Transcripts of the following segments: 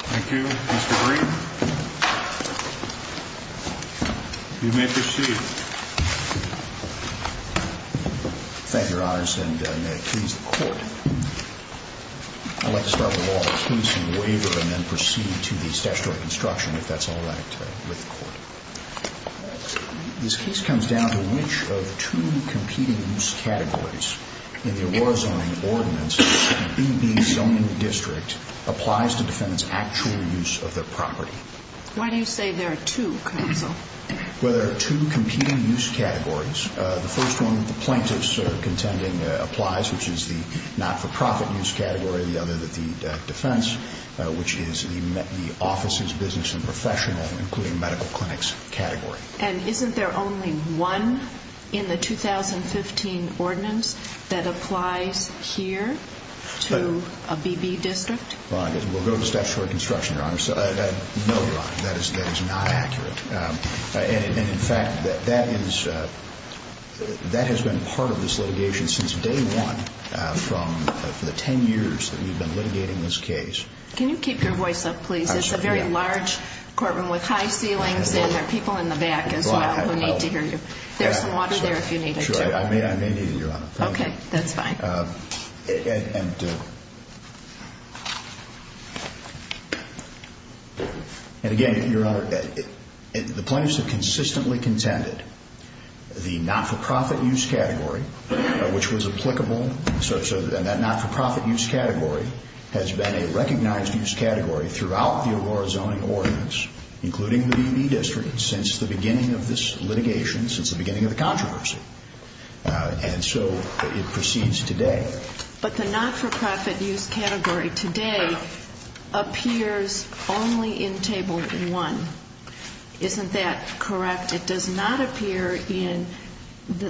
Thank you, Mr. Green. You may proceed. Thank you, Your Honors. And may it please the Court, I'd like to start with a law case and waiver and then proceed to the statutory construction, if that's all right with the Court. This case comes down to which of two competing use categories in the Aurora zoning ordinance, AB Zoning District, applies to defendants' actual use of their property? Well, there are two competing use categories. The first one, the plaintiff's contending applies, which is the not-for-profit use category. The other, the defense, which is the office's business and professional, including medical clinics category. And isn't there only one in the 2015 ordinance that applies here to a BB District? Well, I guess we'll go to statutory construction, Your Honor. No, Your Honor, that is not accurate. And in fact, that has been part of this litigation since day one from the ten years that we've been litigating this case. Can you keep your voice up, please? It's a very large courtroom with high ceilings and there are people in the back as well who need to hear you. There's some water there if you need it, too. Sure, I may need it, Your Honor. Okay, that's fine. And again, Your Honor, the plaintiffs have consistently contended the not-for-profit use category, which was applicable, and that not-for-profit use category has been a recognized use category throughout the Aurora Zoning Ordinance, including the BB District, since the beginning of this litigation, since the beginning of the controversy. And so it proceeds today. But the not-for-profit use category today appears only in Table 1. Isn't that correct? It does not appear in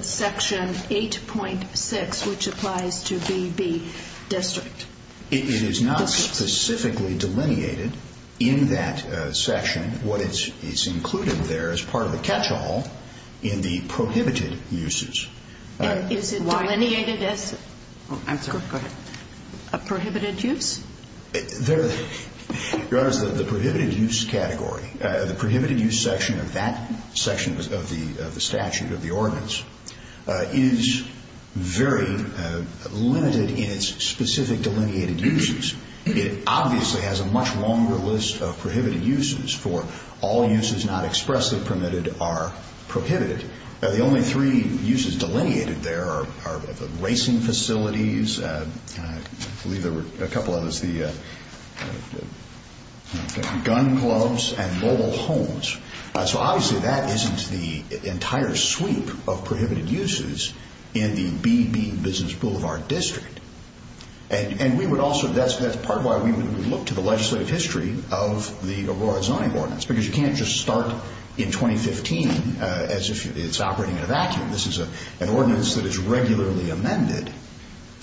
Section 8.6, which applies to BB District. It is not specifically delineated in that section. What is included there is part of the catch-all in the prohibited uses. And is it delineated as a prohibited use? Your Honor, the prohibited use category, the prohibited use section of that section of the statute, of the ordinance, is very limited in its specific delineated uses. It obviously has a much longer list of prohibited uses for all uses not expressly permitted are prohibited. The only three uses delineated there are the racing facilities, I believe there were a couple others, the gun clubs and mobile homes. So obviously that isn't the entire sweep of prohibited uses in the BB Business Boulevard District. And we would also, that's part of why we would look to the legislative history of the Aurora Zoning Ordinance. Because you can't just start in 2015 as if it's operating in a vacuum. This is an ordinance that is regularly amended.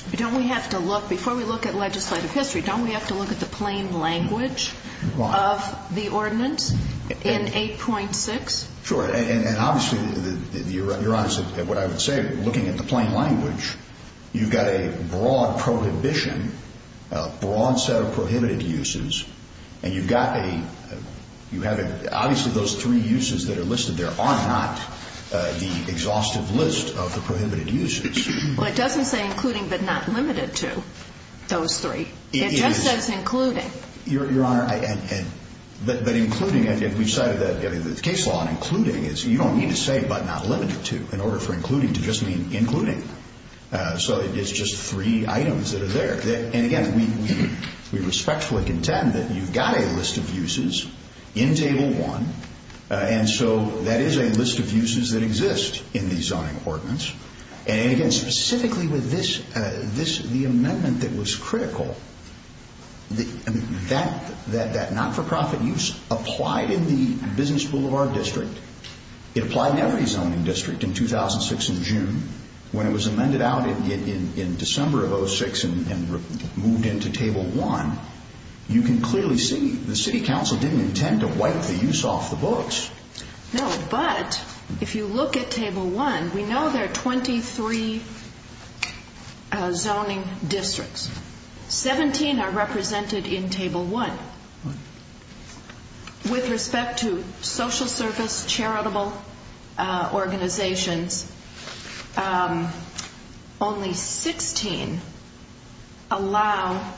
But don't we have to look, before we look at legislative history, don't we have to look at the plain language of the ordinance in 8.6? Sure. And obviously, Your Honor, what I would say, looking at the plain language, you've got a broad prohibition, a broad set of prohibited uses, and you've got a, you have a, obviously those three uses that are listed there are not the exhaustive list of the prohibited uses. Well, it doesn't say including but not limited to those three. It just says including. It is. Your Honor, but including, we've cited the case law on including. You don't need to say but not limited to in order for including to just mean including. So it's just three items that are there. And again, we respectfully contend that you've got a list of uses in Table 1, and so that is a list of uses that exist in the zoning ordinance. And again, specifically with this, the amendment that was critical, that not-for-profit use applied in the business boulevard district. It applied in every zoning district in 2006 in June. When it was amended out in December of 2006 and moved into Table 1, you can clearly see the City Council didn't intend to wipe the use off the books. No, but if you look at Table 1, we know there are 23 zoning districts. 17 are represented in Table 1. With respect to social service, charitable organizations, only 16 allow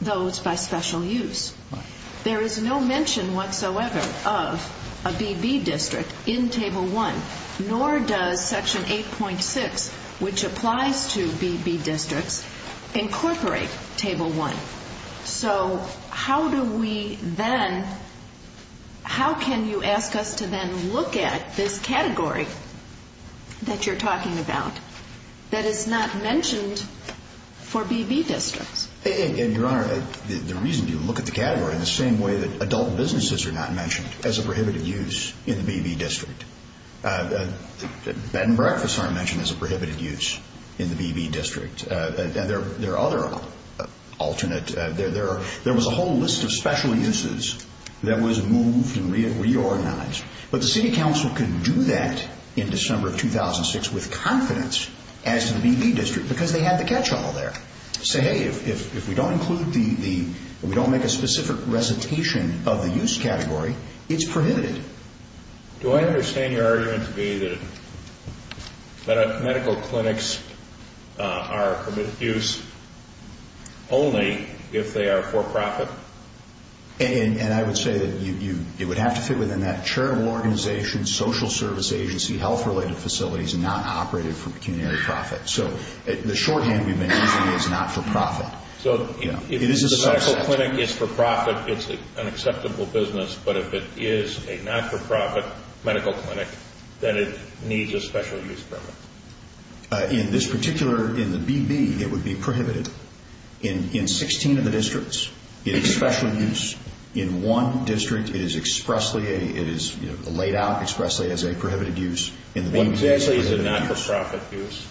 those by special use. There is no mention whatsoever of a BB district in Table 1, nor does Section So how do we then, how can you ask us to then look at this category that you're talking about that is not mentioned for BB districts? Your Honor, the reason you look at the category in the same way that adult businesses are not mentioned as a prohibited use in the BB district. Bed and breakfast aren't mentioned as a prohibited use in the BB district. There are other alternate, there was a whole list of special uses that was moved and reorganized. But the City Council could do that in December of 2006 with confidence as to the BB district because they had the catch-all there. Say, hey, if we don't include the, if we don't make a specific recitation of the use category, it's prohibited. Do I understand your argument to be that medical clinics are prohibited use only if they are for profit? And I would say that it would have to fit within that charitable organization, social service agency, health-related facilities, not operated for pecuniary profit. So the shorthand we've been using is not for profit. So if the medical clinic is for profit, it's an acceptable business. But if it is a not for profit medical clinic, then it needs a special use permit. In this particular, in the BB, it would be prohibited. In 16 of the districts, it is special use. In one district, it is expressly, it is laid out expressly as a prohibited use. What exactly is a not for profit use?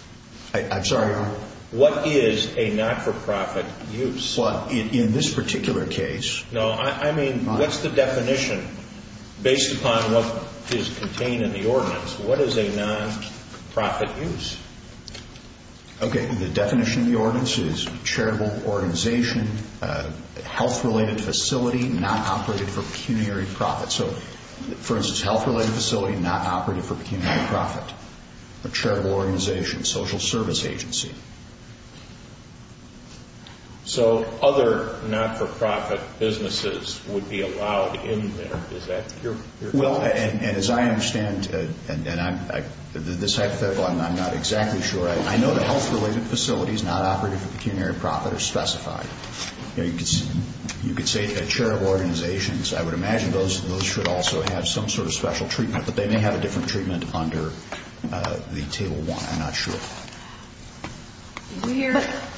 I'm sorry, Your Honor? What is a not for profit use? Well, in this particular case... No, I mean, what's the definition based upon what is contained in the ordinance? What is a not for profit use? Okay, the definition of the ordinance is charitable organization, health-related facility, not operated for pecuniary profit. So, for instance, health-related facility, not operated for pecuniary profit. A charitable organization, social service agency. So, other not for profit businesses would be allowed in there. Is that your question? Well, and as I understand, and this hypothetical, I'm not exactly sure. I know the health-related facilities, not operated for pecuniary profit, are specified. You could say a charitable organization, I would imagine those should also have some sort of special treatment, but they may have a different treatment under the Table 1. I'm not sure. We're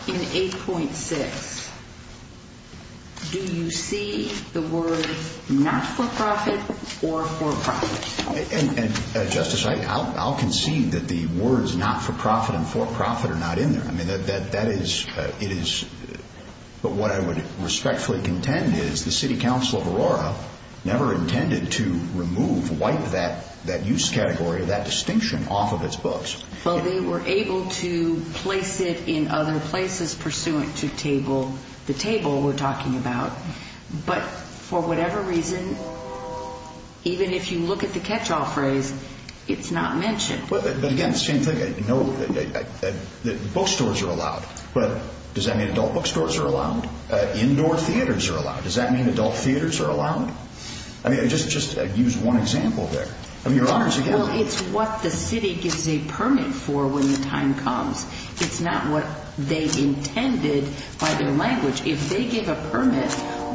in 8.6. Do you see the word not for profit or for profit? And, Justice, I'll concede that the words not for profit and for profit are not in there. I mean, that is, it is, but what I would respectfully contend is the City Council of wipe that use category, that distinction, off of its books. Well, they were able to place it in other places pursuant to table, the table we're talking about, but for whatever reason, even if you look at the catch-all phrase, it's not mentioned. But, again, same thing. I know that bookstores are allowed, but does that mean adult bookstores are allowed? Indoor theaters are allowed. Does that mean adult theaters are allowed? Well, it's what the City gives a permit for when the time comes. It's not what they intended by their language. If they give a permit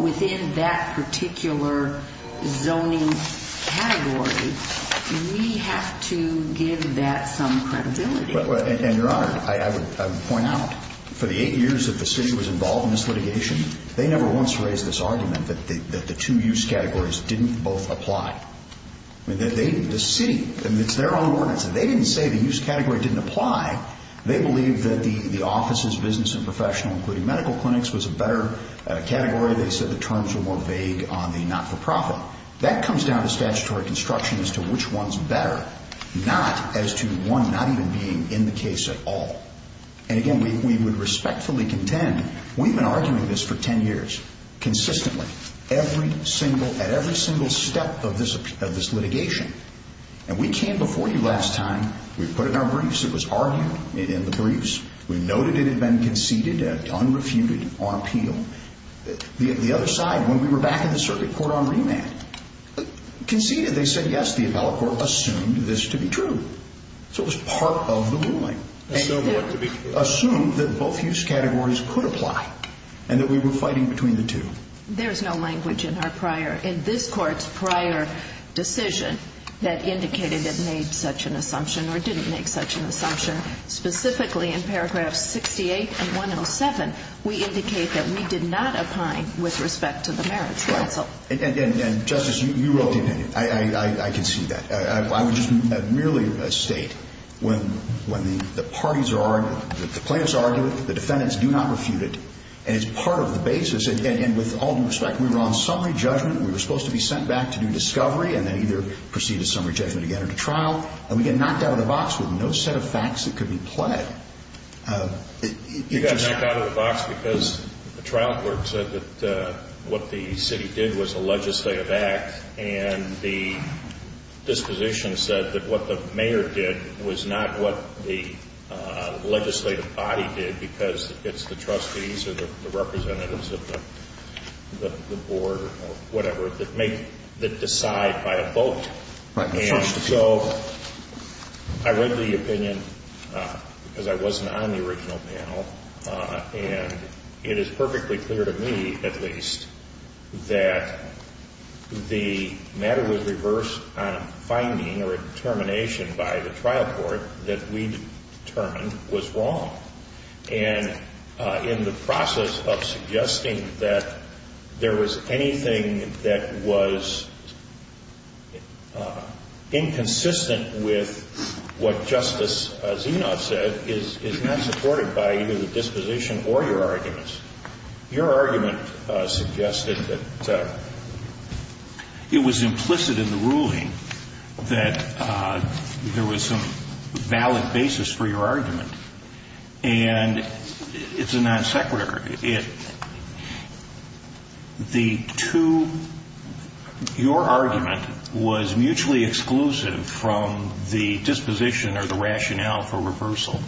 within that particular zoning category, we have to give that some credibility. And, Your Honor, I would point out, for the eight years that the City was involved in this litigation, they never once raised this argument that the two use categories didn't both apply. The City, it's their own ordinance, they didn't say the use category didn't apply. They believed that the offices, business and professional, including medical clinics, was a better category. They said the terms were more vague on the not-for-profit. That comes down to statutory construction as to which one's better, not as to one not even being in the case at all. And, again, we would respectfully contend, we've been arguing this for ten years, consistently, at every single step of this litigation. And we came before you last time, we put it in our briefs, it was argued in the briefs, we noted it had been conceded and unrefuted on appeal. The other side, when we were back in the circuit court on remand, conceded, they said yes, the appellate court assumed this to be true. So it was part of the ruling. Assumed what to be true. Assumed that both use categories could apply and that we were fighting between the two. There's no language in our prior, in this court's prior decision that indicated it made such an assumption or didn't make such an assumption. Specifically, in paragraphs 68 and 107, we indicate that we did not opine with respect to the merits counsel. And, Justice, you wrote the opinion. I can see that. I would just merely state when the parties are arguing, the plaintiffs are arguing, the defendants do not And with all due respect, we were on summary judgment. We were supposed to be sent back to do discovery and then either proceed to summary judgment again or to trial. And we get knocked out of the box with no set of facts that could be pled. You got knocked out of the box because the trial court said that what the city did was a legislative act and the disposition said that what the mayor did was not what the legislative body did because it's the trustees or the representatives of the board or whatever that decide by a vote. Right. And so I read the opinion because I wasn't on the original panel, and it is perfectly clear to me, at least, that the matter was reversed on a finding or a determination by the trial court that we determined was wrong. And in the process of suggesting that there was anything that was inconsistent with what Justice Zenoff said is not supported by either the disposition or your arguments. Your argument suggested that it was implicit in the ruling that there was some non-sequitur. The two, your argument was mutually exclusive from the disposition or the rationale for reversal.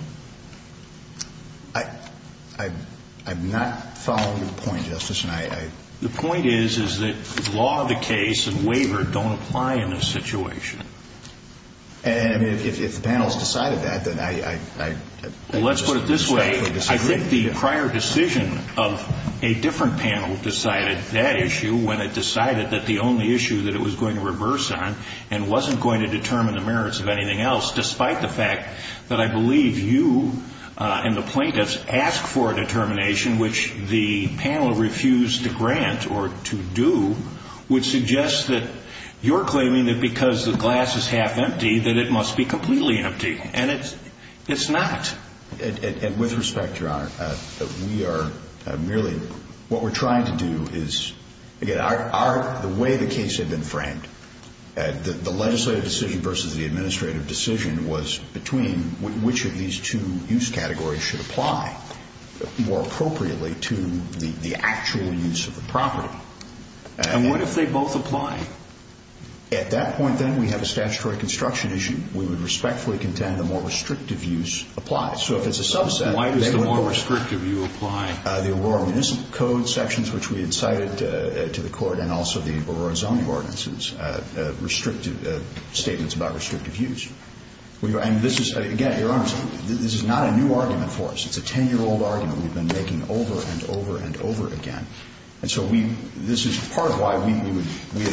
I'm not following your point, Justice. The point is that law of the case and waiver don't apply in this situation. And if the panel has decided that, then I Let's put it this way. I think the prior decision of a different panel decided that issue when it decided that the only issue that it was going to reverse on and wasn't going to determine the merits of anything else, despite the fact that I believe you and the plaintiffs asked for a determination, which the panel refused to grant or to do, would suggest that you're claiming that because the And it's not. And with respect, Your Honor, we are merely, what we're trying to do is, again, the way the case had been framed, the legislative decision versus the administrative decision was between which of these two use categories should apply more appropriately to the actual use of the property. And what if they both apply? At that point, then, we have a statutory construction issue. We would respectfully contend the more restrictive use applies. So if it's a subset, they would Why does the more restrictive use apply? The Aurora Municipal Code sections, which we had cited to the Court, and also the Aurora Zoning Ordinances, restrictive statements about restrictive use. And this is, again, Your Honor, this is not a new argument for us. It's a 10-year-old argument we've been making over and over and over again. And so this is part of why we would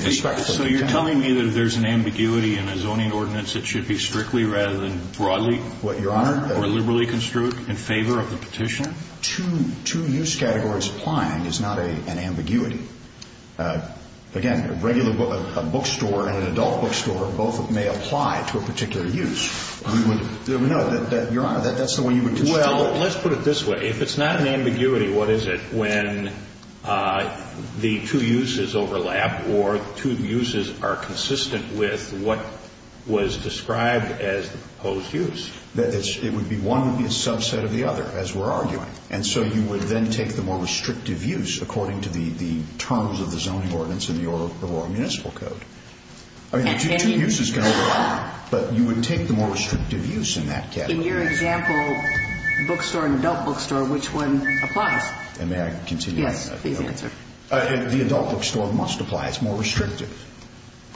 respectfully contend. So you're telling me that if there's an ambiguity in a zoning ordinance, it should be strictly rather than broadly? What, Your Honor? Or liberally construed in favor of the petitioner? Two use categories applying is not an ambiguity. Again, a regular bookstore and an adult bookstore both may apply to a particular use. We would know that, Your Honor, that's the way you would construct it. Well, let's put it this way. If it's not an ambiguity, what is it when the two uses overlap or two uses are consistent with what was described as the proposed use? It would be one would be a subset of the other, as we're arguing. And so you would then take the more restrictive use according to the terms of the zoning ordinance in the Aurora Municipal Code. I mean, two uses can overlap, but you would take the more restrictive use in that category. In your example, bookstore and adult bookstore, which one applies? And may I continue? Yes, please answer. The adult bookstore must apply. It's more restrictive.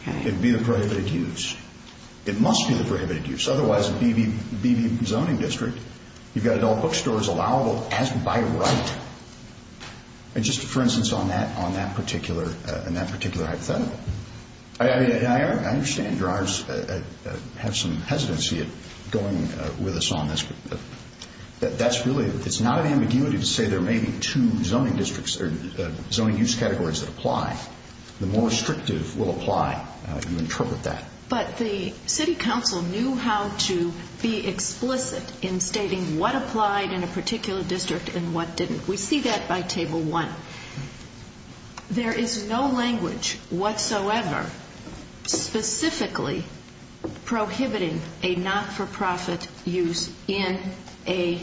It would be the prohibited use. It must be the prohibited use. Otherwise, a BV zoning district, you've got adult bookstores allowable as by right. And just for instance on that particular hypothetical. I understand, Your Honors, have some hesitancy going with us on this. That's really, it's not an ambiguity to say there may be two zoning districts or zoning use categories that apply. The more restrictive will apply. You interpret that. But the city council knew how to be explicit in stating what applied in a particular district and what didn't. We see that by Table 1. There is no language whatsoever specifically prohibiting a not-for-profit use in a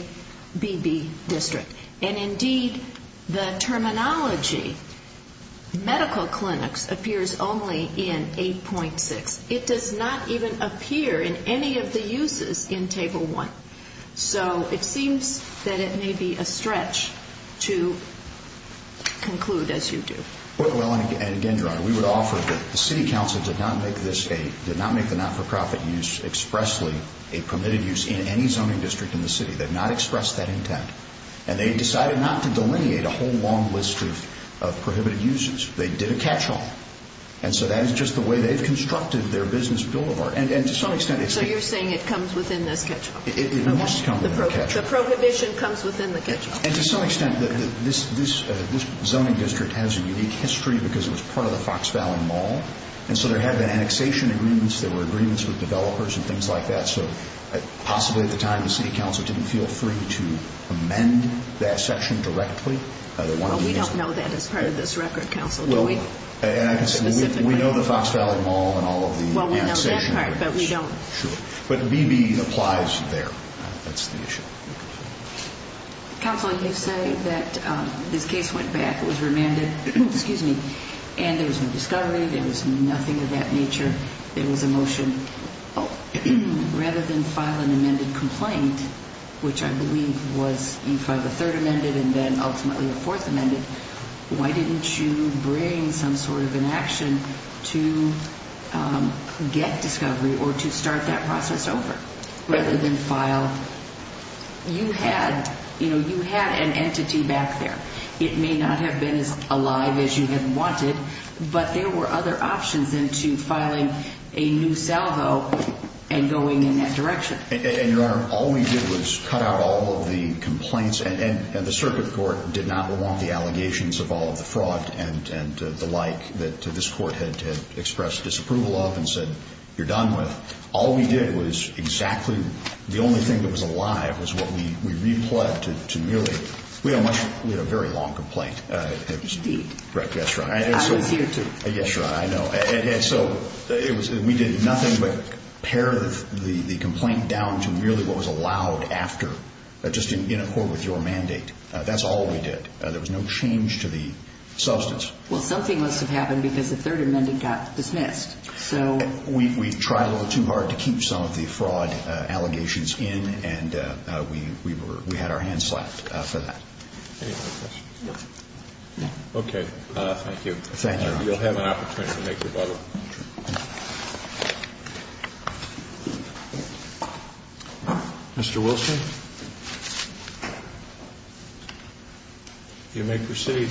BB district. And indeed, the terminology medical clinics appears only in 8.6. It does not even appear in any of the uses in Table 1. So it seems that it may be a stretch to conclude as you do. Well, and again, Your Honor, we would offer that the city council did not make this a, did not make the not-for-profit use expressly a permitted use in any zoning district in the city. They've not expressed that intent. And they decided not to delineate a whole long list of prohibited uses. They did a catch-all. And so that is just the way they've constructed their business bill of art. So you're saying it comes within this catch-all. It must come within the catch-all. The prohibition comes within the catch-all. And to some extent, this zoning district has a unique history because it was part of the Fox Valley Mall. And so there had been annexation agreements. There were agreements with developers and things like that. So possibly at the time, the city council didn't feel free to amend that section directly. Well, we don't know that as part of this record, counsel. Do we? We know the Fox Valley Mall and all of the annexation agreements. Well, we know that part, but we don't. Sure. But B.B. applies there. That's the issue. Counsel, you say that this case went back, was remanded. Excuse me. And there was no discovery. There was nothing of that nature. There was a motion. Rather than file an amended complaint, which I believe was you filed a third amended and then ultimately a fourth amended, why didn't you bring some sort of an action to get discovery or to start that process over rather than file? You had an entity back there. It may not have been as alive as you had wanted, but there were other options than to filing a new salvo and going in that direction. And, Your Honor, all we did was cut out all of the complaints. And the circuit court did not want the allegations of all of the fraud and the like that this court had expressed disapproval of and said you're done with. All we did was exactly the only thing that was alive was what we replugged to merely. We had a very long complaint. Indeed. Yes, Your Honor. I was here, too. Yes, Your Honor. I know. We did nothing but pare the complaint down to merely what was allowed after, just in accord with your mandate. That's all we did. There was no change to the substance. Well, something must have happened because the third amended got dismissed. We tried a little too hard to keep some of the fraud allegations in, and we had our hands slapped for that. Any other questions? No. No. Okay. Thank you. Thank you, Your Honor. You'll have an opportunity to make your butler. Mr. Wilson, you may proceed.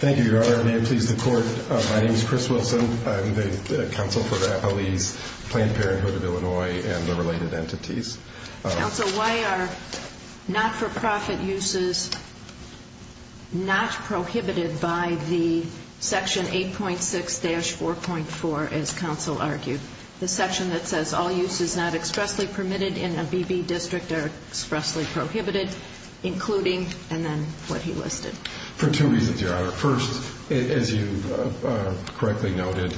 Thank you, Your Honor. May it please the Court, my name is Chris Wilson. I'm the counsel for the Appalese Planned Parenthood of Illinois and the related entities. Counsel, why are not-for-profit uses not prohibited by the section 8.6-4.4, as counsel argued? The section that says all uses not expressly permitted in a BB district are expressly prohibited, including, and then what he listed. First, as you correctly noted,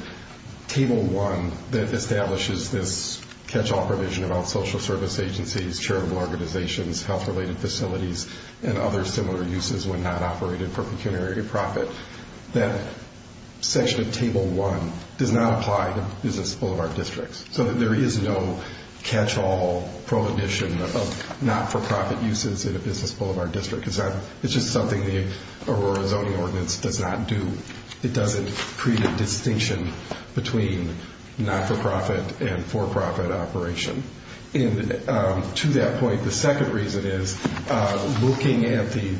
Table 1 that establishes this catch-all provision about social service agencies, charitable organizations, health-related facilities, and other similar uses when not operated for pecuniary profit. That section of Table 1 does not apply to business boulevard districts. So there is no catch-all prohibition of not-for-profit uses in a business boulevard district. It's just something the Aurora Zoning Ordinance does not do. It doesn't create a distinction between not-for-profit and for-profit operation. And to that point, the second reason is, looking at the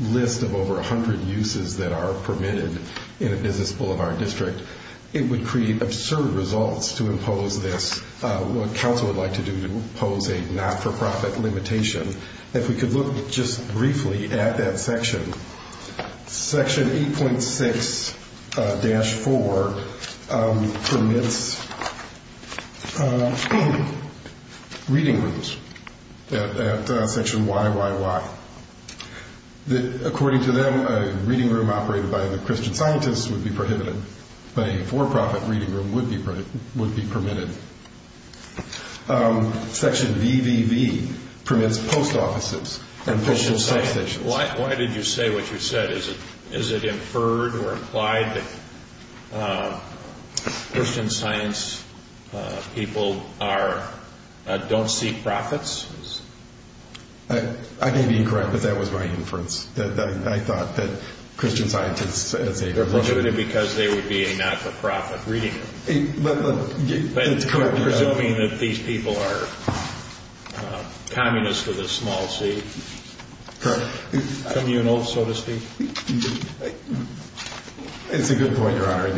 list of over 100 uses that are permitted in a business boulevard district, it would create absurd results to impose this, what counsel would like to do, to impose a not-for-profit limitation. If we could look just briefly at that section, Section 8.6-4 permits reading rooms at Section YYY. According to them, a reading room operated by the Christian scientists would be prohibited, but a for-profit reading room would be permitted. Section VVV permits post offices and postal substations. Why did you say what you said? Is it inferred or implied that Christian science people don't see profits? I may be incorrect, but that was my inference. I thought that Christian scientists would say they're prohibited because they would be a not-for-profit reading room. Presuming that these people are communists of the small c, communal, so to speak? It's a good point, Your Honor.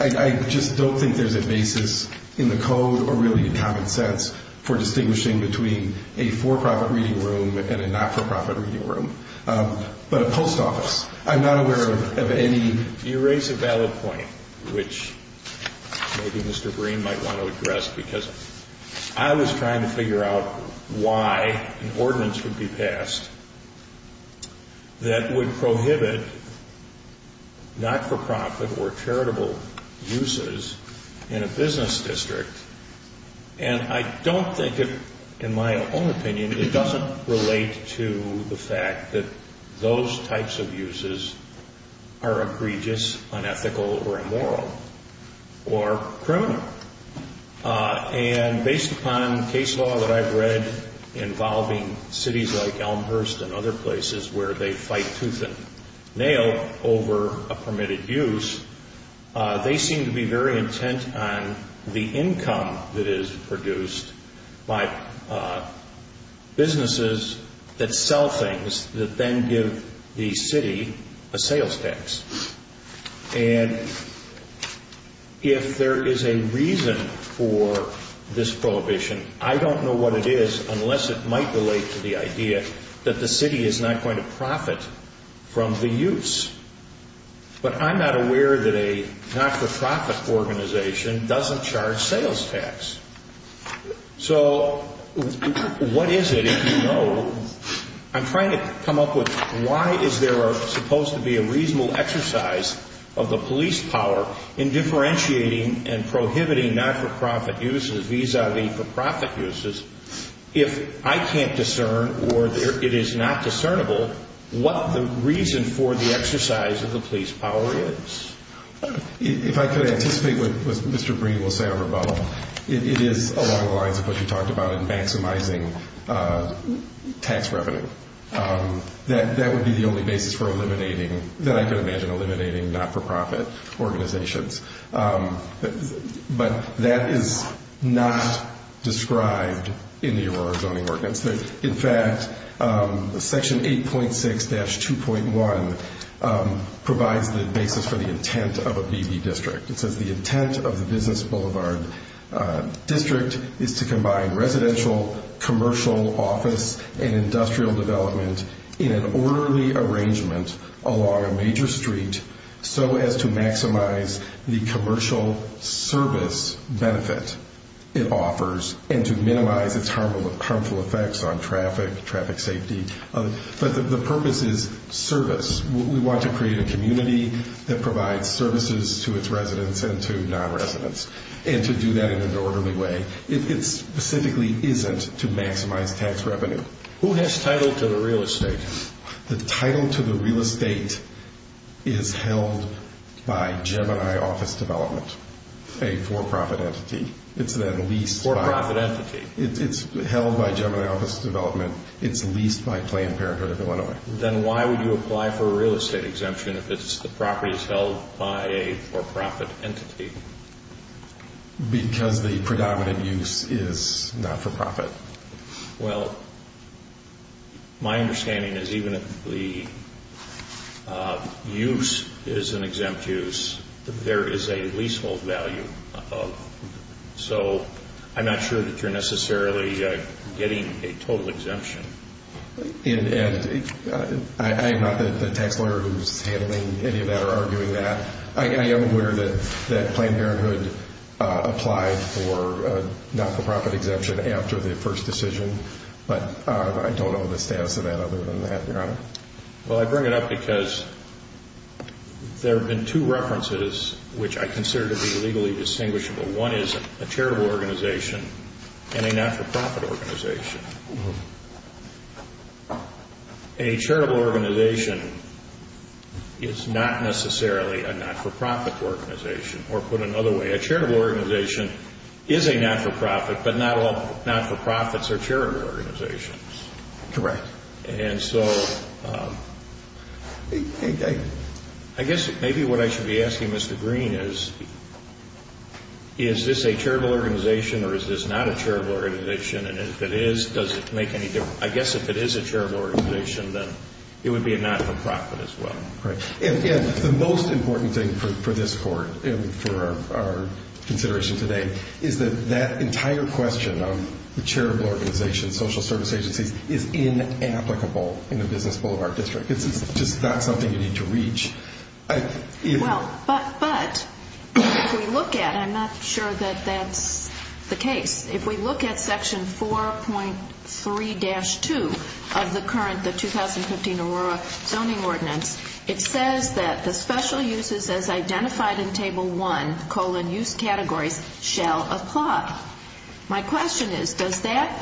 I just don't think there's a basis in the code or really in common sense for distinguishing between a for-profit reading room and a not-for-profit reading room. But a post office, I'm not aware of any. You raise a valid point, which maybe Mr. Breen might want to address, because I was trying to figure out why an ordinance would be passed that would prohibit not-for-profit or charitable uses in a business district. And I don't think, in my own opinion, it doesn't relate to the fact that those types of uses are egregious, unethical, or immoral or criminal. And based upon case law that I've read involving cities like Elmhurst and other places where they fight tooth and nail over a permitted use, they seem to be very intent on the income that is produced by businesses that sell things that then give the city a sales tax. And if there is a reason for this prohibition, I don't know what it is unless it might relate to the idea that the city is not going to profit from the use. But I'm not aware that a not-for-profit organization doesn't charge sales tax. So what is it if you know? I'm trying to come up with why is there supposed to be a reasonable exercise of the police power in differentiating and prohibiting not-for-profit uses vis-a-vis for-profit uses if I can't discern or it is not discernible what the reason for the exercise of the police power is? If I could anticipate what Mr. Breen will say on rebuttal, it is along the lines of what you talked about in maximizing tax revenue. That would be the only basis for eliminating, that I can imagine eliminating, not-for-profit organizations. But that is not described in the Aurora zoning ordinance. In fact, Section 8.6-2.1 provides the basis for the intent of a BB district. It says the intent of the business boulevard district is to combine residential, commercial, office, and industrial development in an orderly arrangement along a major street so as to maximize the commercial service benefit it offers and to minimize its harmful effects on traffic, traffic safety. But the purpose is service. We want to create a community that provides services to its residents and to non-residents and to do that in an orderly way. It specifically isn't to maximize tax revenue. Who has title to the real estate? The title to the real estate is held by Gemini Office Development, a for-profit entity. It's then leased by... For-profit entity. It's held by Gemini Office Development. It's leased by Planned Parenthood of Illinois. Then why would you apply for a real estate exemption if the property is held by a for-profit entity? Because the predominant use is not-for-profit. Well, my understanding is even if the use is an exempt use, there is a leasehold value. So I'm not sure that you're necessarily getting a total exemption. I'm not the tax lawyer who's handling any of that or arguing that. I am aware that Planned Parenthood applied for a not-for-profit exemption after the first decision. But I don't know the status of that other than that, Your Honor. Well, I bring it up because there have been two references which I consider to be legally distinguishable. One is a charitable organization and a not-for-profit organization. A charitable organization is not necessarily a not-for-profit organization. Or put another way, a charitable organization is a not-for-profit, but not all not-for-profits are charitable organizations. Correct. And so I guess maybe what I should be asking Mr. Green is, is this a charitable organization or is this not a charitable organization? And if it is, does it make any difference? I guess if it is a charitable organization, then it would be a not-for-profit as well. Correct. And the most important thing for this Court and for our consideration today is that that entire question of the charitable organization, social service agencies, is inapplicable in a business boulevard district. It's just not something you need to reach. Well, but if we look at it, I'm not sure that that's the case. If we look at Section 4.3-2 of the current 2015 Aurora Zoning Ordinance, it says that the special uses as identified in Table 1, colon, use categories, shall apply. My question is, does that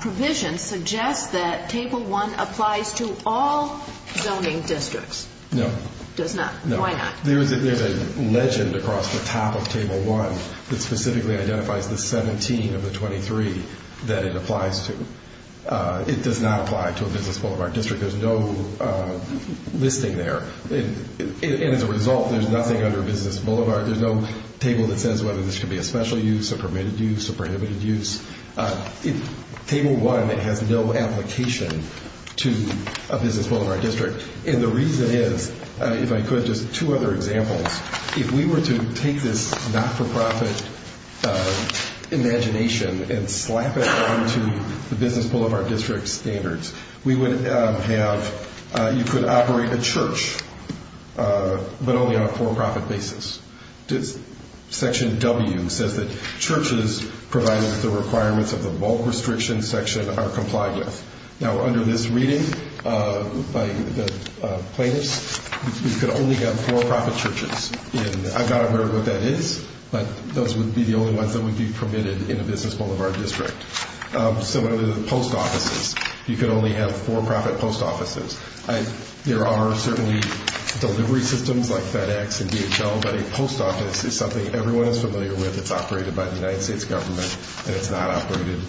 provision suggest that Table 1 applies to all zoning districts? No. Does not? Why not? There's a legend across the top of Table 1 that specifically identifies the 17 of the 23 that it applies to. It does not apply to a business boulevard district. There's no listing there. And as a result, there's nothing under business boulevard. There's no table that says whether this should be a special use, a permitted use, a prohibited use. Table 1 has no application to a business boulevard district. And the reason is, if I could, just two other examples. If we were to take this not-for-profit imagination and slap it onto the business boulevard district standards, we would have, you could operate a church, but only on a for-profit basis. Section W says that churches provided with the requirements of the bulk restriction section are complied with. Now, under this reading by the plaintiffs, we could only have for-profit churches. And I've got to learn what that is, but those would be the only ones that would be permitted in a business boulevard district. Similar to the post offices, you could only have for-profit post offices. There are certainly delivery systems like FedEx and DHL, but a post office is something everyone is familiar with. It's operated by the United States government, and it's not operated,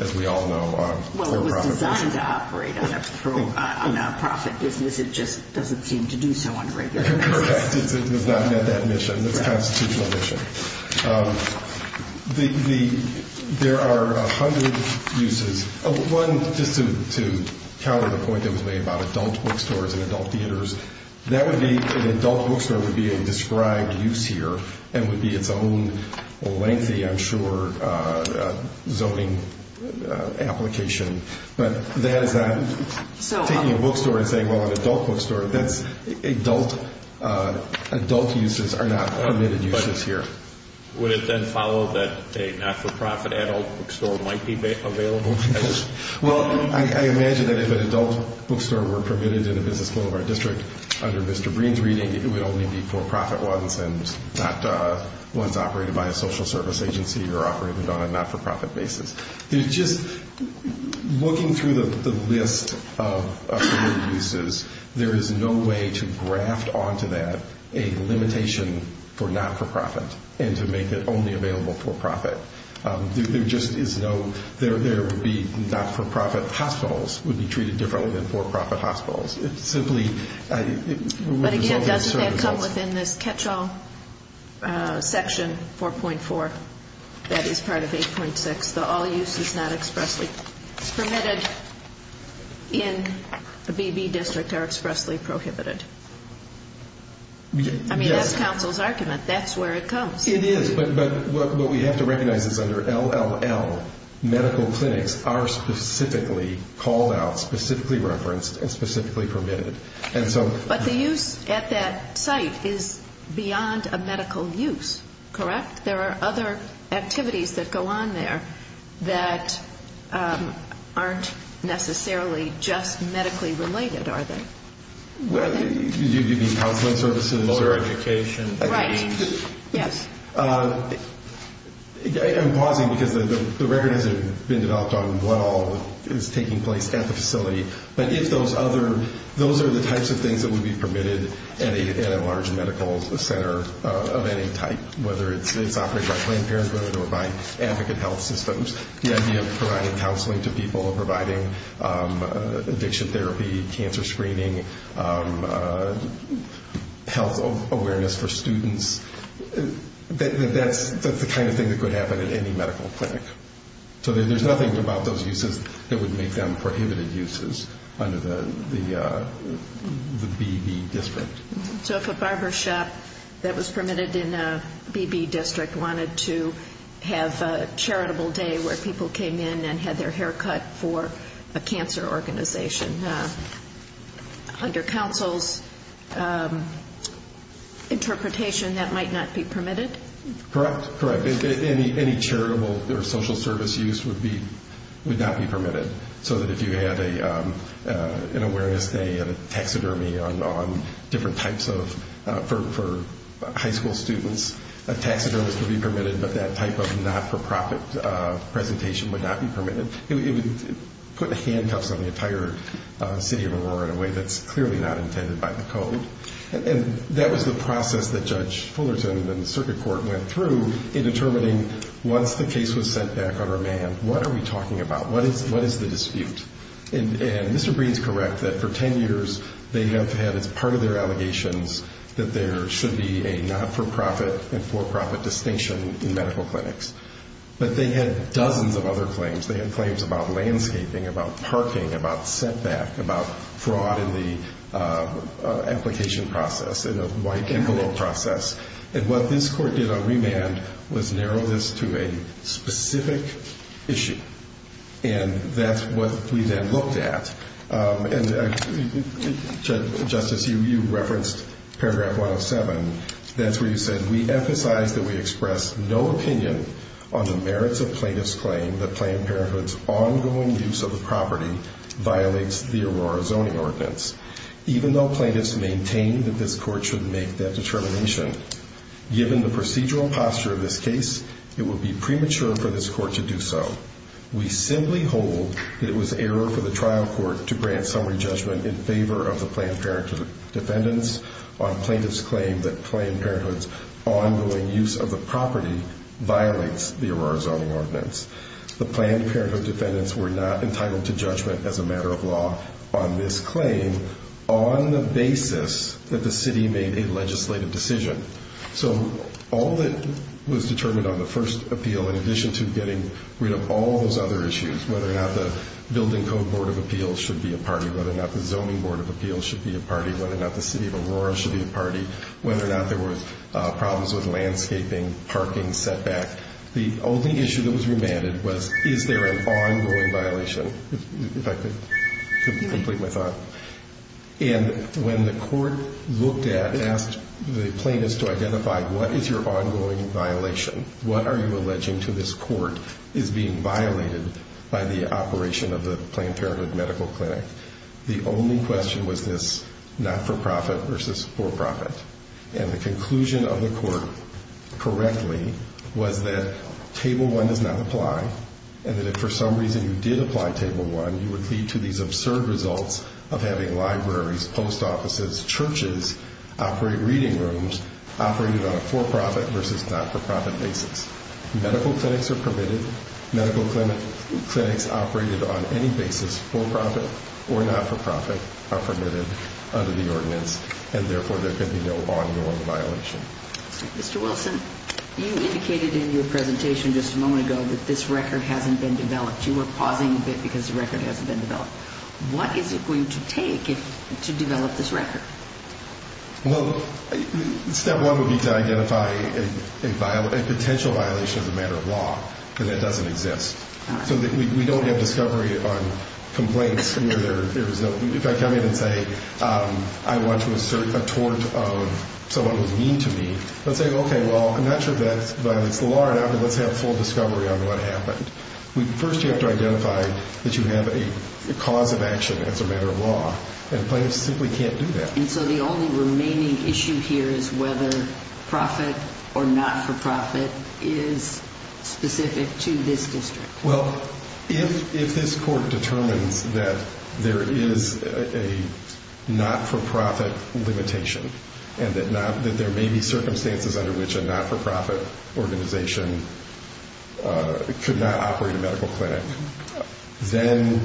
as we all know, on for-profit churches. Well, it was designed to operate on a for-profit business. It just doesn't seem to do so on regular basis. Correct. It's not met that mission. It's a constitutional mission. There are a hundred uses. One, just to counter the point that was made about adult bookstores and adult theaters, that would be, an adult bookstore would be a described use here and would be its own lengthy, I'm sure, zoning application. But that is not taking a bookstore and saying, well, an adult bookstore. Adult uses are not permitted uses here. Would it then follow that a not-for-profit adult bookstore might be available? Well, I imagine that if an adult bookstore were permitted in a business boulevard district under Mr. Breen's reading, it would only be for-profit ones and not ones operated by a social service agency or operated on a not-for-profit basis. Just looking through the list of permitted uses, there is no way to graft onto that a limitation for not-for-profit and to make it only available for-profit. There would be not-for-profit hospitals would be treated differently than for-profit hospitals. But again, doesn't that come within this catch-all section 4.4 that is part of 8.6, the all uses not expressly permitted in a BB district are expressly prohibited? I mean, that's counsel's argument. That's where it comes. It is. But what we have to recognize is under LLL, medical clinics are specifically called out, specifically referenced, and specifically permitted. But the use at that site is beyond a medical use, correct? There are other activities that go on there that aren't necessarily just medically related, are they? Do you mean counseling services or education? Right. Yes. I'm pausing because the record hasn't been developed on what all is taking place at the facility. But if those are the types of things that would be permitted at a large medical center of any type, whether it's operated by Planned Parenthood or by Advocate Health Systems, the idea of providing counseling to people, providing addiction therapy, cancer screening, health awareness for students, that's the kind of thing that could happen at any medical clinic. So there's nothing about those uses that would make them prohibited uses under the BB district. So if a barber shop that was permitted in a BB district wanted to have a charitable day where people came in and had their hair cut for a cancer organization, under counsel's interpretation, that might not be permitted? Correct. Any charitable or social service use would not be permitted. So that if you had an awareness day at a taxidermy for high school students, a taxidermist would be permitted, but that type of not-for-profit presentation would not be permitted. It would put handcuffs on the entire city of Aurora in a way that's clearly not intended by the code. And that was the process that Judge Fullerton and the circuit court went through in determining once the case was sent back on remand, what are we talking about? What is the dispute? And Mr. Breen's correct that for 10 years they have had as part of their allegations that there should be a not-for-profit and for-profit distinction in medical clinics. But they had dozens of other claims. They had claims about landscaping, about parking, about setback, about fraud in the application process, in a white envelope process. And what this court did on remand was narrow this to a specific issue. And that's what we then looked at. And, Justice, you referenced paragraph 107. That's where you said, We emphasize that we express no opinion on the merits of plaintiff's claim that Planned Parenthood's ongoing use of the property violates the Aurora Zoning Ordinance, even though plaintiffs maintain that this court should make that determination. Given the procedural posture of this case, it would be premature for this court to do so. We simply hold that it was error for the trial court to grant summary judgment in favor of the Planned Parenthood defendants on plaintiff's claim that Planned Parenthood's ongoing use of the property violates the Aurora Zoning Ordinance. The Planned Parenthood defendants were not entitled to judgment as a matter of law on this claim on the basis that the city made a legislative decision. So all that was determined on the first appeal, in addition to getting rid of all those other issues, whether or not the Building Code Board of Appeals should be a party, whether or not the Zoning Board of Appeals should be a party, whether or not the city of Aurora should be a party, whether or not there were problems with landscaping, parking, setback. The only issue that was remanded was, Is there an ongoing violation? If I could complete my thought. And when the court looked at and asked the plaintiffs to identify, What is your ongoing violation? What are you alleging to this court is being violated by the operation of the Planned Parenthood Medical Clinic? The only question was this not-for-profit versus for-profit. And the conclusion of the court, correctly, was that Table 1 does not apply and that if for some reason you did apply Table 1, you would lead to these absurd results of having libraries, post offices, churches, operating reading rooms operated on a for-profit versus not-for-profit basis. Medical clinics are permitted. Medical clinics operated on any basis, for-profit or not-for-profit, are permitted under the ordinance, and therefore there can be no ongoing violation. Mr. Wilson, you indicated in your presentation just a moment ago that this record hasn't been developed. You were pausing a bit because the record hasn't been developed. What is it going to take to develop this record? Well, step one would be to identify a potential violation as a matter of law, because that doesn't exist. So we don't have discovery on complaints where there is no. If I come in and say I want to assert a tort of someone who's mean to me, let's say, okay, well, I'm not sure that violates the law or not, but let's have full discovery on what happened. First you have to identify that you have a cause of action as a matter of law, and plaintiffs simply can't do that. And so the only remaining issue here is whether profit or not-for-profit is specific to this district. Well, if this court determines that there is a not-for-profit limitation and that there may be circumstances under which a not-for-profit organization could not operate a medical clinic, then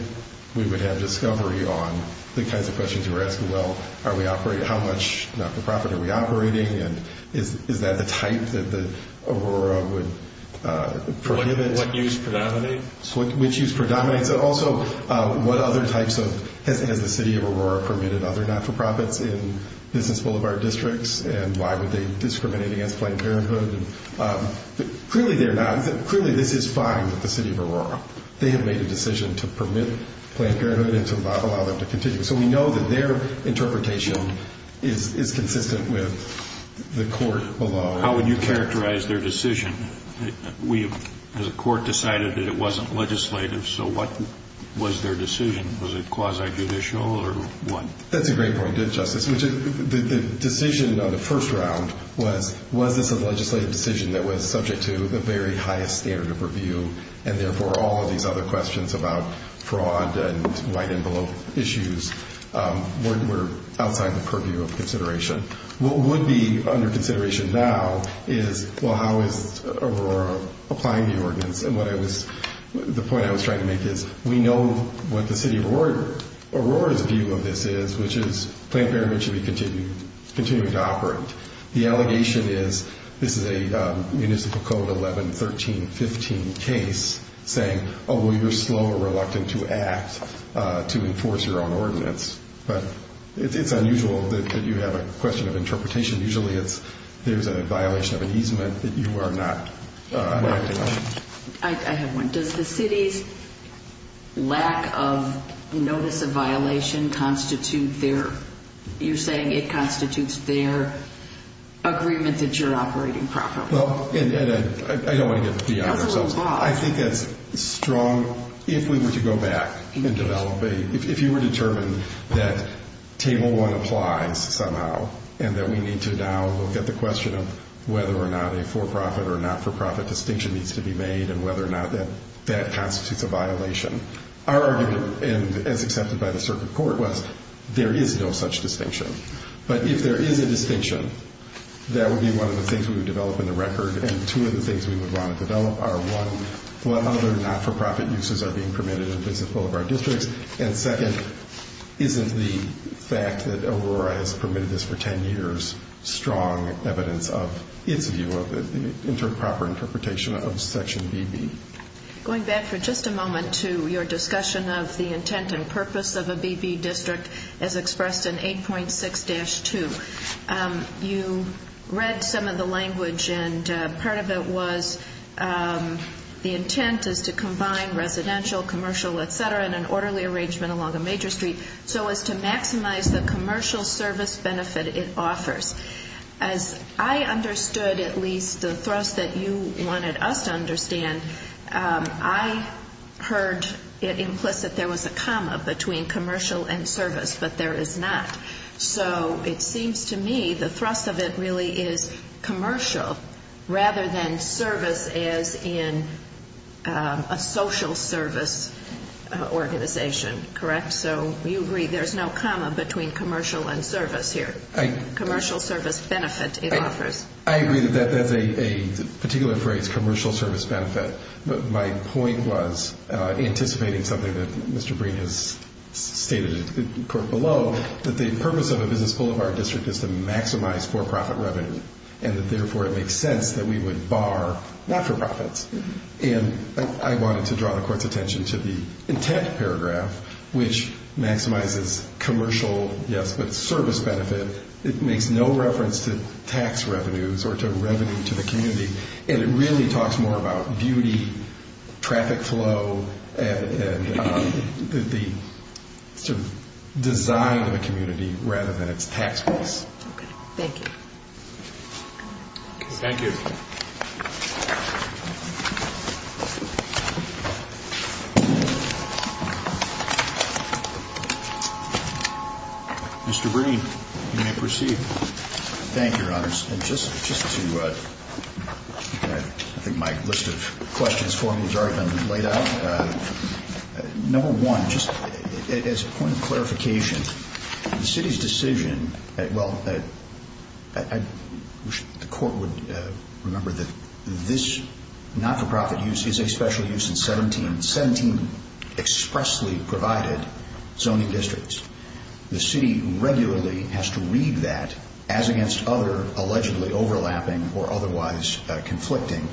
we would have discovery on the kinds of questions you were asking. Well, how much not-for-profit are we operating, and is that the type that Aurora would prohibit? What use predominates. Which use predominates. Also, what other types of, has the city of Aurora permitted other not-for-profits in business boulevard districts, and why would they discriminate against Planned Parenthood? Clearly they're not. Clearly this is fine with the city of Aurora. They have made a decision to permit Planned Parenthood and to not allow them to continue. So we know that their interpretation is consistent with the court below. How would you characterize their decision? We, as a court, decided that it wasn't legislative, so what was their decision? Was it quasi-judicial or what? That's a great point, Justice. The decision on the first round was, was this a legislative decision that was subject to the very highest standard of review, and therefore all of these other questions about fraud and white envelope issues were outside the purview of consideration. What would be under consideration now is, well, how is Aurora applying the ordinance? And what I was, the point I was trying to make is, we know what the city of Aurora's view of this is, which is Planned Parenthood should be continuing to operate. The allegation is, this is a Municipal Code 11-13-15 case saying, oh, well, you're slow or reluctant to act to enforce your own ordinance. But it's unusual that you have a question of interpretation. Usually it's, there's a violation of an easement that you are not acting on. I have one. Does the city's lack of notice of violation constitute their, you're saying it constitutes their agreement that you're operating properly? Well, and I don't want to get beyond ourselves. I think that's strong. So if we were to go back and develop a, if you were determined that table one applies somehow and that we need to now look at the question of whether or not a for-profit or not-for-profit distinction needs to be made and whether or not that constitutes a violation, our argument, and as accepted by the circuit court, was there is no such distinction. But if there is a distinction, that would be one of the things we would develop in the record, and two of the things we would want to develop are, one, whether or not for-profit uses are being permitted in both of our districts, and second, isn't the fact that Aurora has permitted this for 10 years strong evidence of its view of it, the proper interpretation of Section BB? Going back for just a moment to your discussion of the intent and purpose of a BB district as expressed in 8.6-2, you read some of the language and part of it was the intent is to combine residential, commercial, et cetera, and an orderly arrangement along a major street so as to maximize the commercial service benefit it offers. As I understood, at least, the thrust that you wanted us to understand, I heard it implicit there was a comma between commercial and service, but there is not. So it seems to me the thrust of it really is commercial rather than service as in a social service organization. Correct? So you agree there's no comma between commercial and service here, commercial service benefit it offers. I agree that that's a particular phrase, commercial service benefit. But my point was anticipating something that Mr. Breen has stated in the quote below, that the purpose of a business boulevard district is to maximize for-profit revenue, and that therefore it makes sense that we would bar not-for-profits. And I wanted to draw the Court's attention to the intent paragraph, which maximizes commercial, yes, but service benefit. It makes no reference to tax revenues or to revenue to the community, and it really talks more about beauty, traffic flow, and the design of the community rather than its tax base. Okay. Thank you. Thank you. Mr. Breen, you may proceed. Thank you, Your Honors. And just to, I think my list of questions for me has already been laid out. Number one, just as a point of clarification, the City's decision, well, I wish the Court would remember that this not-for-profit use is a special use in 17 expressly provided zoning districts. The City regularly has to read that, as against other allegedly overlapping or otherwise conflicting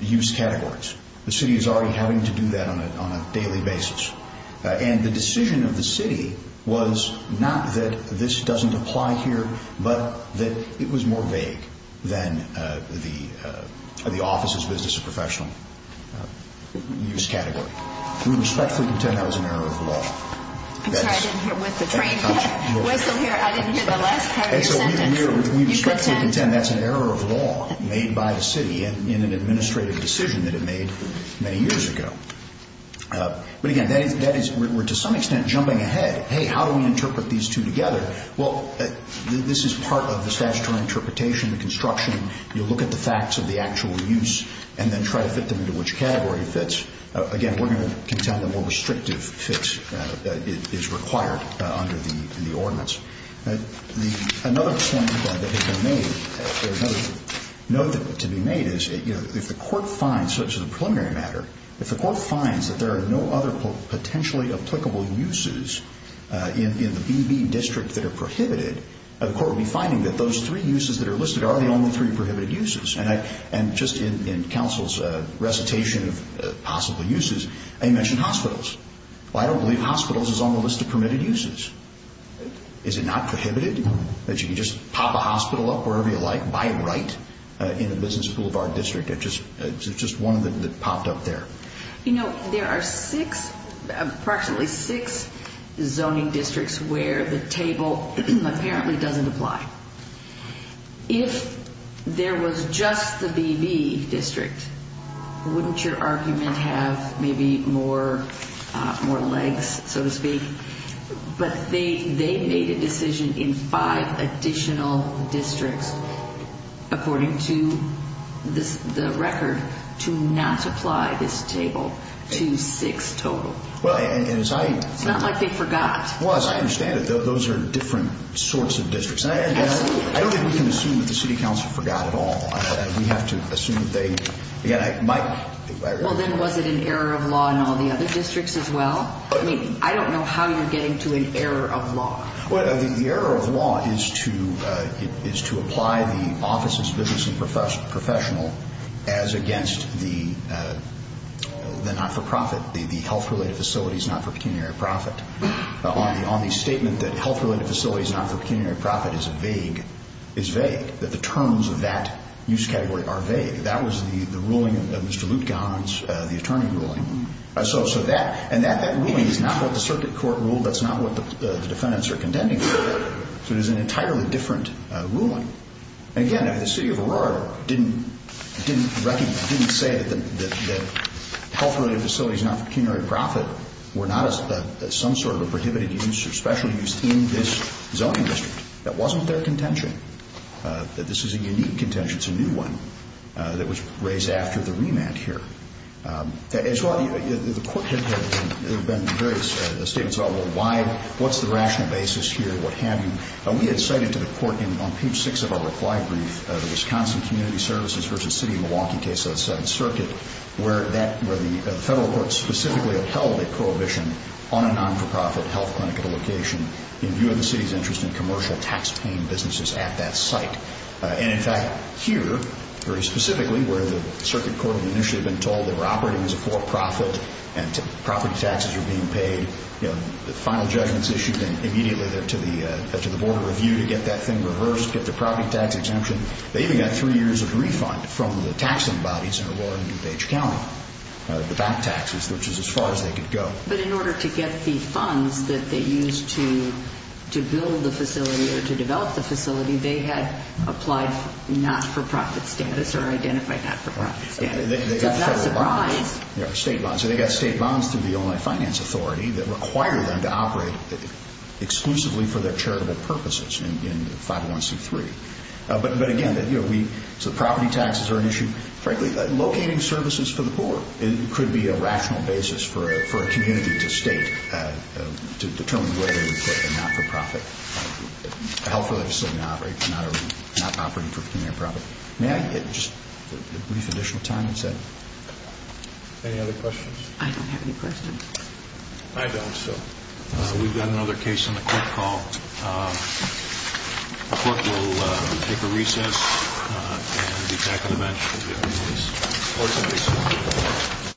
use categories. The City is already having to do that on a daily basis. And the decision of the City was not that this doesn't apply here, but that it was more vague than the office's business professional use category. We respectfully contend that was an error of law. I'm sorry, I didn't hear, with the train whistle here, I didn't hear the last part of your sentence. We respectfully contend that's an error of law made by the City in an administrative decision that it made many years ago. But again, that is, we're to some extent jumping ahead. Hey, how do we interpret these two together? Well, this is part of the statutory interpretation, the construction. You look at the facts of the actual use and then try to fit them into which category fits. Again, we're going to contend the more restrictive fits that is required under the ordinance. Another point that has been made, another note to be made is, you know, if the court finds, so this is a preliminary matter, if the court finds that there are no other potentially applicable uses in the BB district that are prohibited, the court will be finding that those three uses that are listed are the only three prohibited uses. And just in counsel's recitation of possible uses, I mentioned hospitals. Well, I don't believe hospitals is on the list of permitted uses. Is it not prohibited that you can just pop a hospital up wherever you like, buy it right, in the business boulevard district? It's just one of them that popped up there. You know, there are six, approximately six zoning districts where the table apparently doesn't apply. If there was just the BB district, wouldn't your argument have maybe more legs, so to speak? But they made a decision in five additional districts, according to the record, to not apply this table to six total. It's not like they forgot. Well, as I understand it, those are different sorts of districts. And I don't think we can assume that the city council forgot at all. We have to assume that they, again, might. Well, then was it an error of law in all the other districts as well? I mean, I don't know how you're getting to an error of law. Well, the error of law is to apply the offices of business and professional as against the not-for-profit, the health-related facilities not-for-pecuniary profit, on the statement that health-related facilities not-for-pecuniary profit is vague, that the terms of that use category are vague. That was the ruling of Mr. Lutkehan's, the attorney ruling. And that ruling is not what the circuit court ruled. That's not what the defendants are contending for. So it is an entirely different ruling. And, again, if the city of Aurora didn't recognize, didn't say that health-related facilities not-for-pecuniary profit were not some sort of a prohibited use or specialty use in this zoning district, that wasn't their contention, that this is a unique contention, it's a new one that was raised after the remand here. The court had had various statements all worldwide, what's the rational basis here, what have you. We had cited to the court on page 6 of our reply brief, the Wisconsin Community Services v. City of Milwaukee case of the 7th Circuit, where the federal court specifically upheld a prohibition on a not-for-profit health clinic at a location in view of the city's interest in commercial taxpaying businesses at that site. And, in fact, here, very specifically, where the circuit court had initially been told they were operating as a for-profit property taxes were being paid, the final judgment's issued, and immediately they're to the Board of Review to get that thing reversed, get the property tax exemption. They even got three years of refund from the taxing bodies in Aurora and DuPage County, the back taxes, which is as far as they could go. But in order to get the funds that they used to build the facility or to develop the facility, they had applied not-for-profit status or identified not-for-profit status. State bonds. Yeah, state bonds. So they got state bonds through the Illinois Finance Authority that required them to operate exclusively for their charitable purposes in 501c3. But, again, so the property taxes are an issue. Frankly, locating services for the poor could be a rational basis for a community to state, to determine where they would put a not-for-profit health facility, not operating for community profit. May I get just a brief additional time instead? Any other questions? I don't have any questions. I don't, so we've got another case on the court call. The court will take a recess and be back on the bench for the other case. Court is adjourned.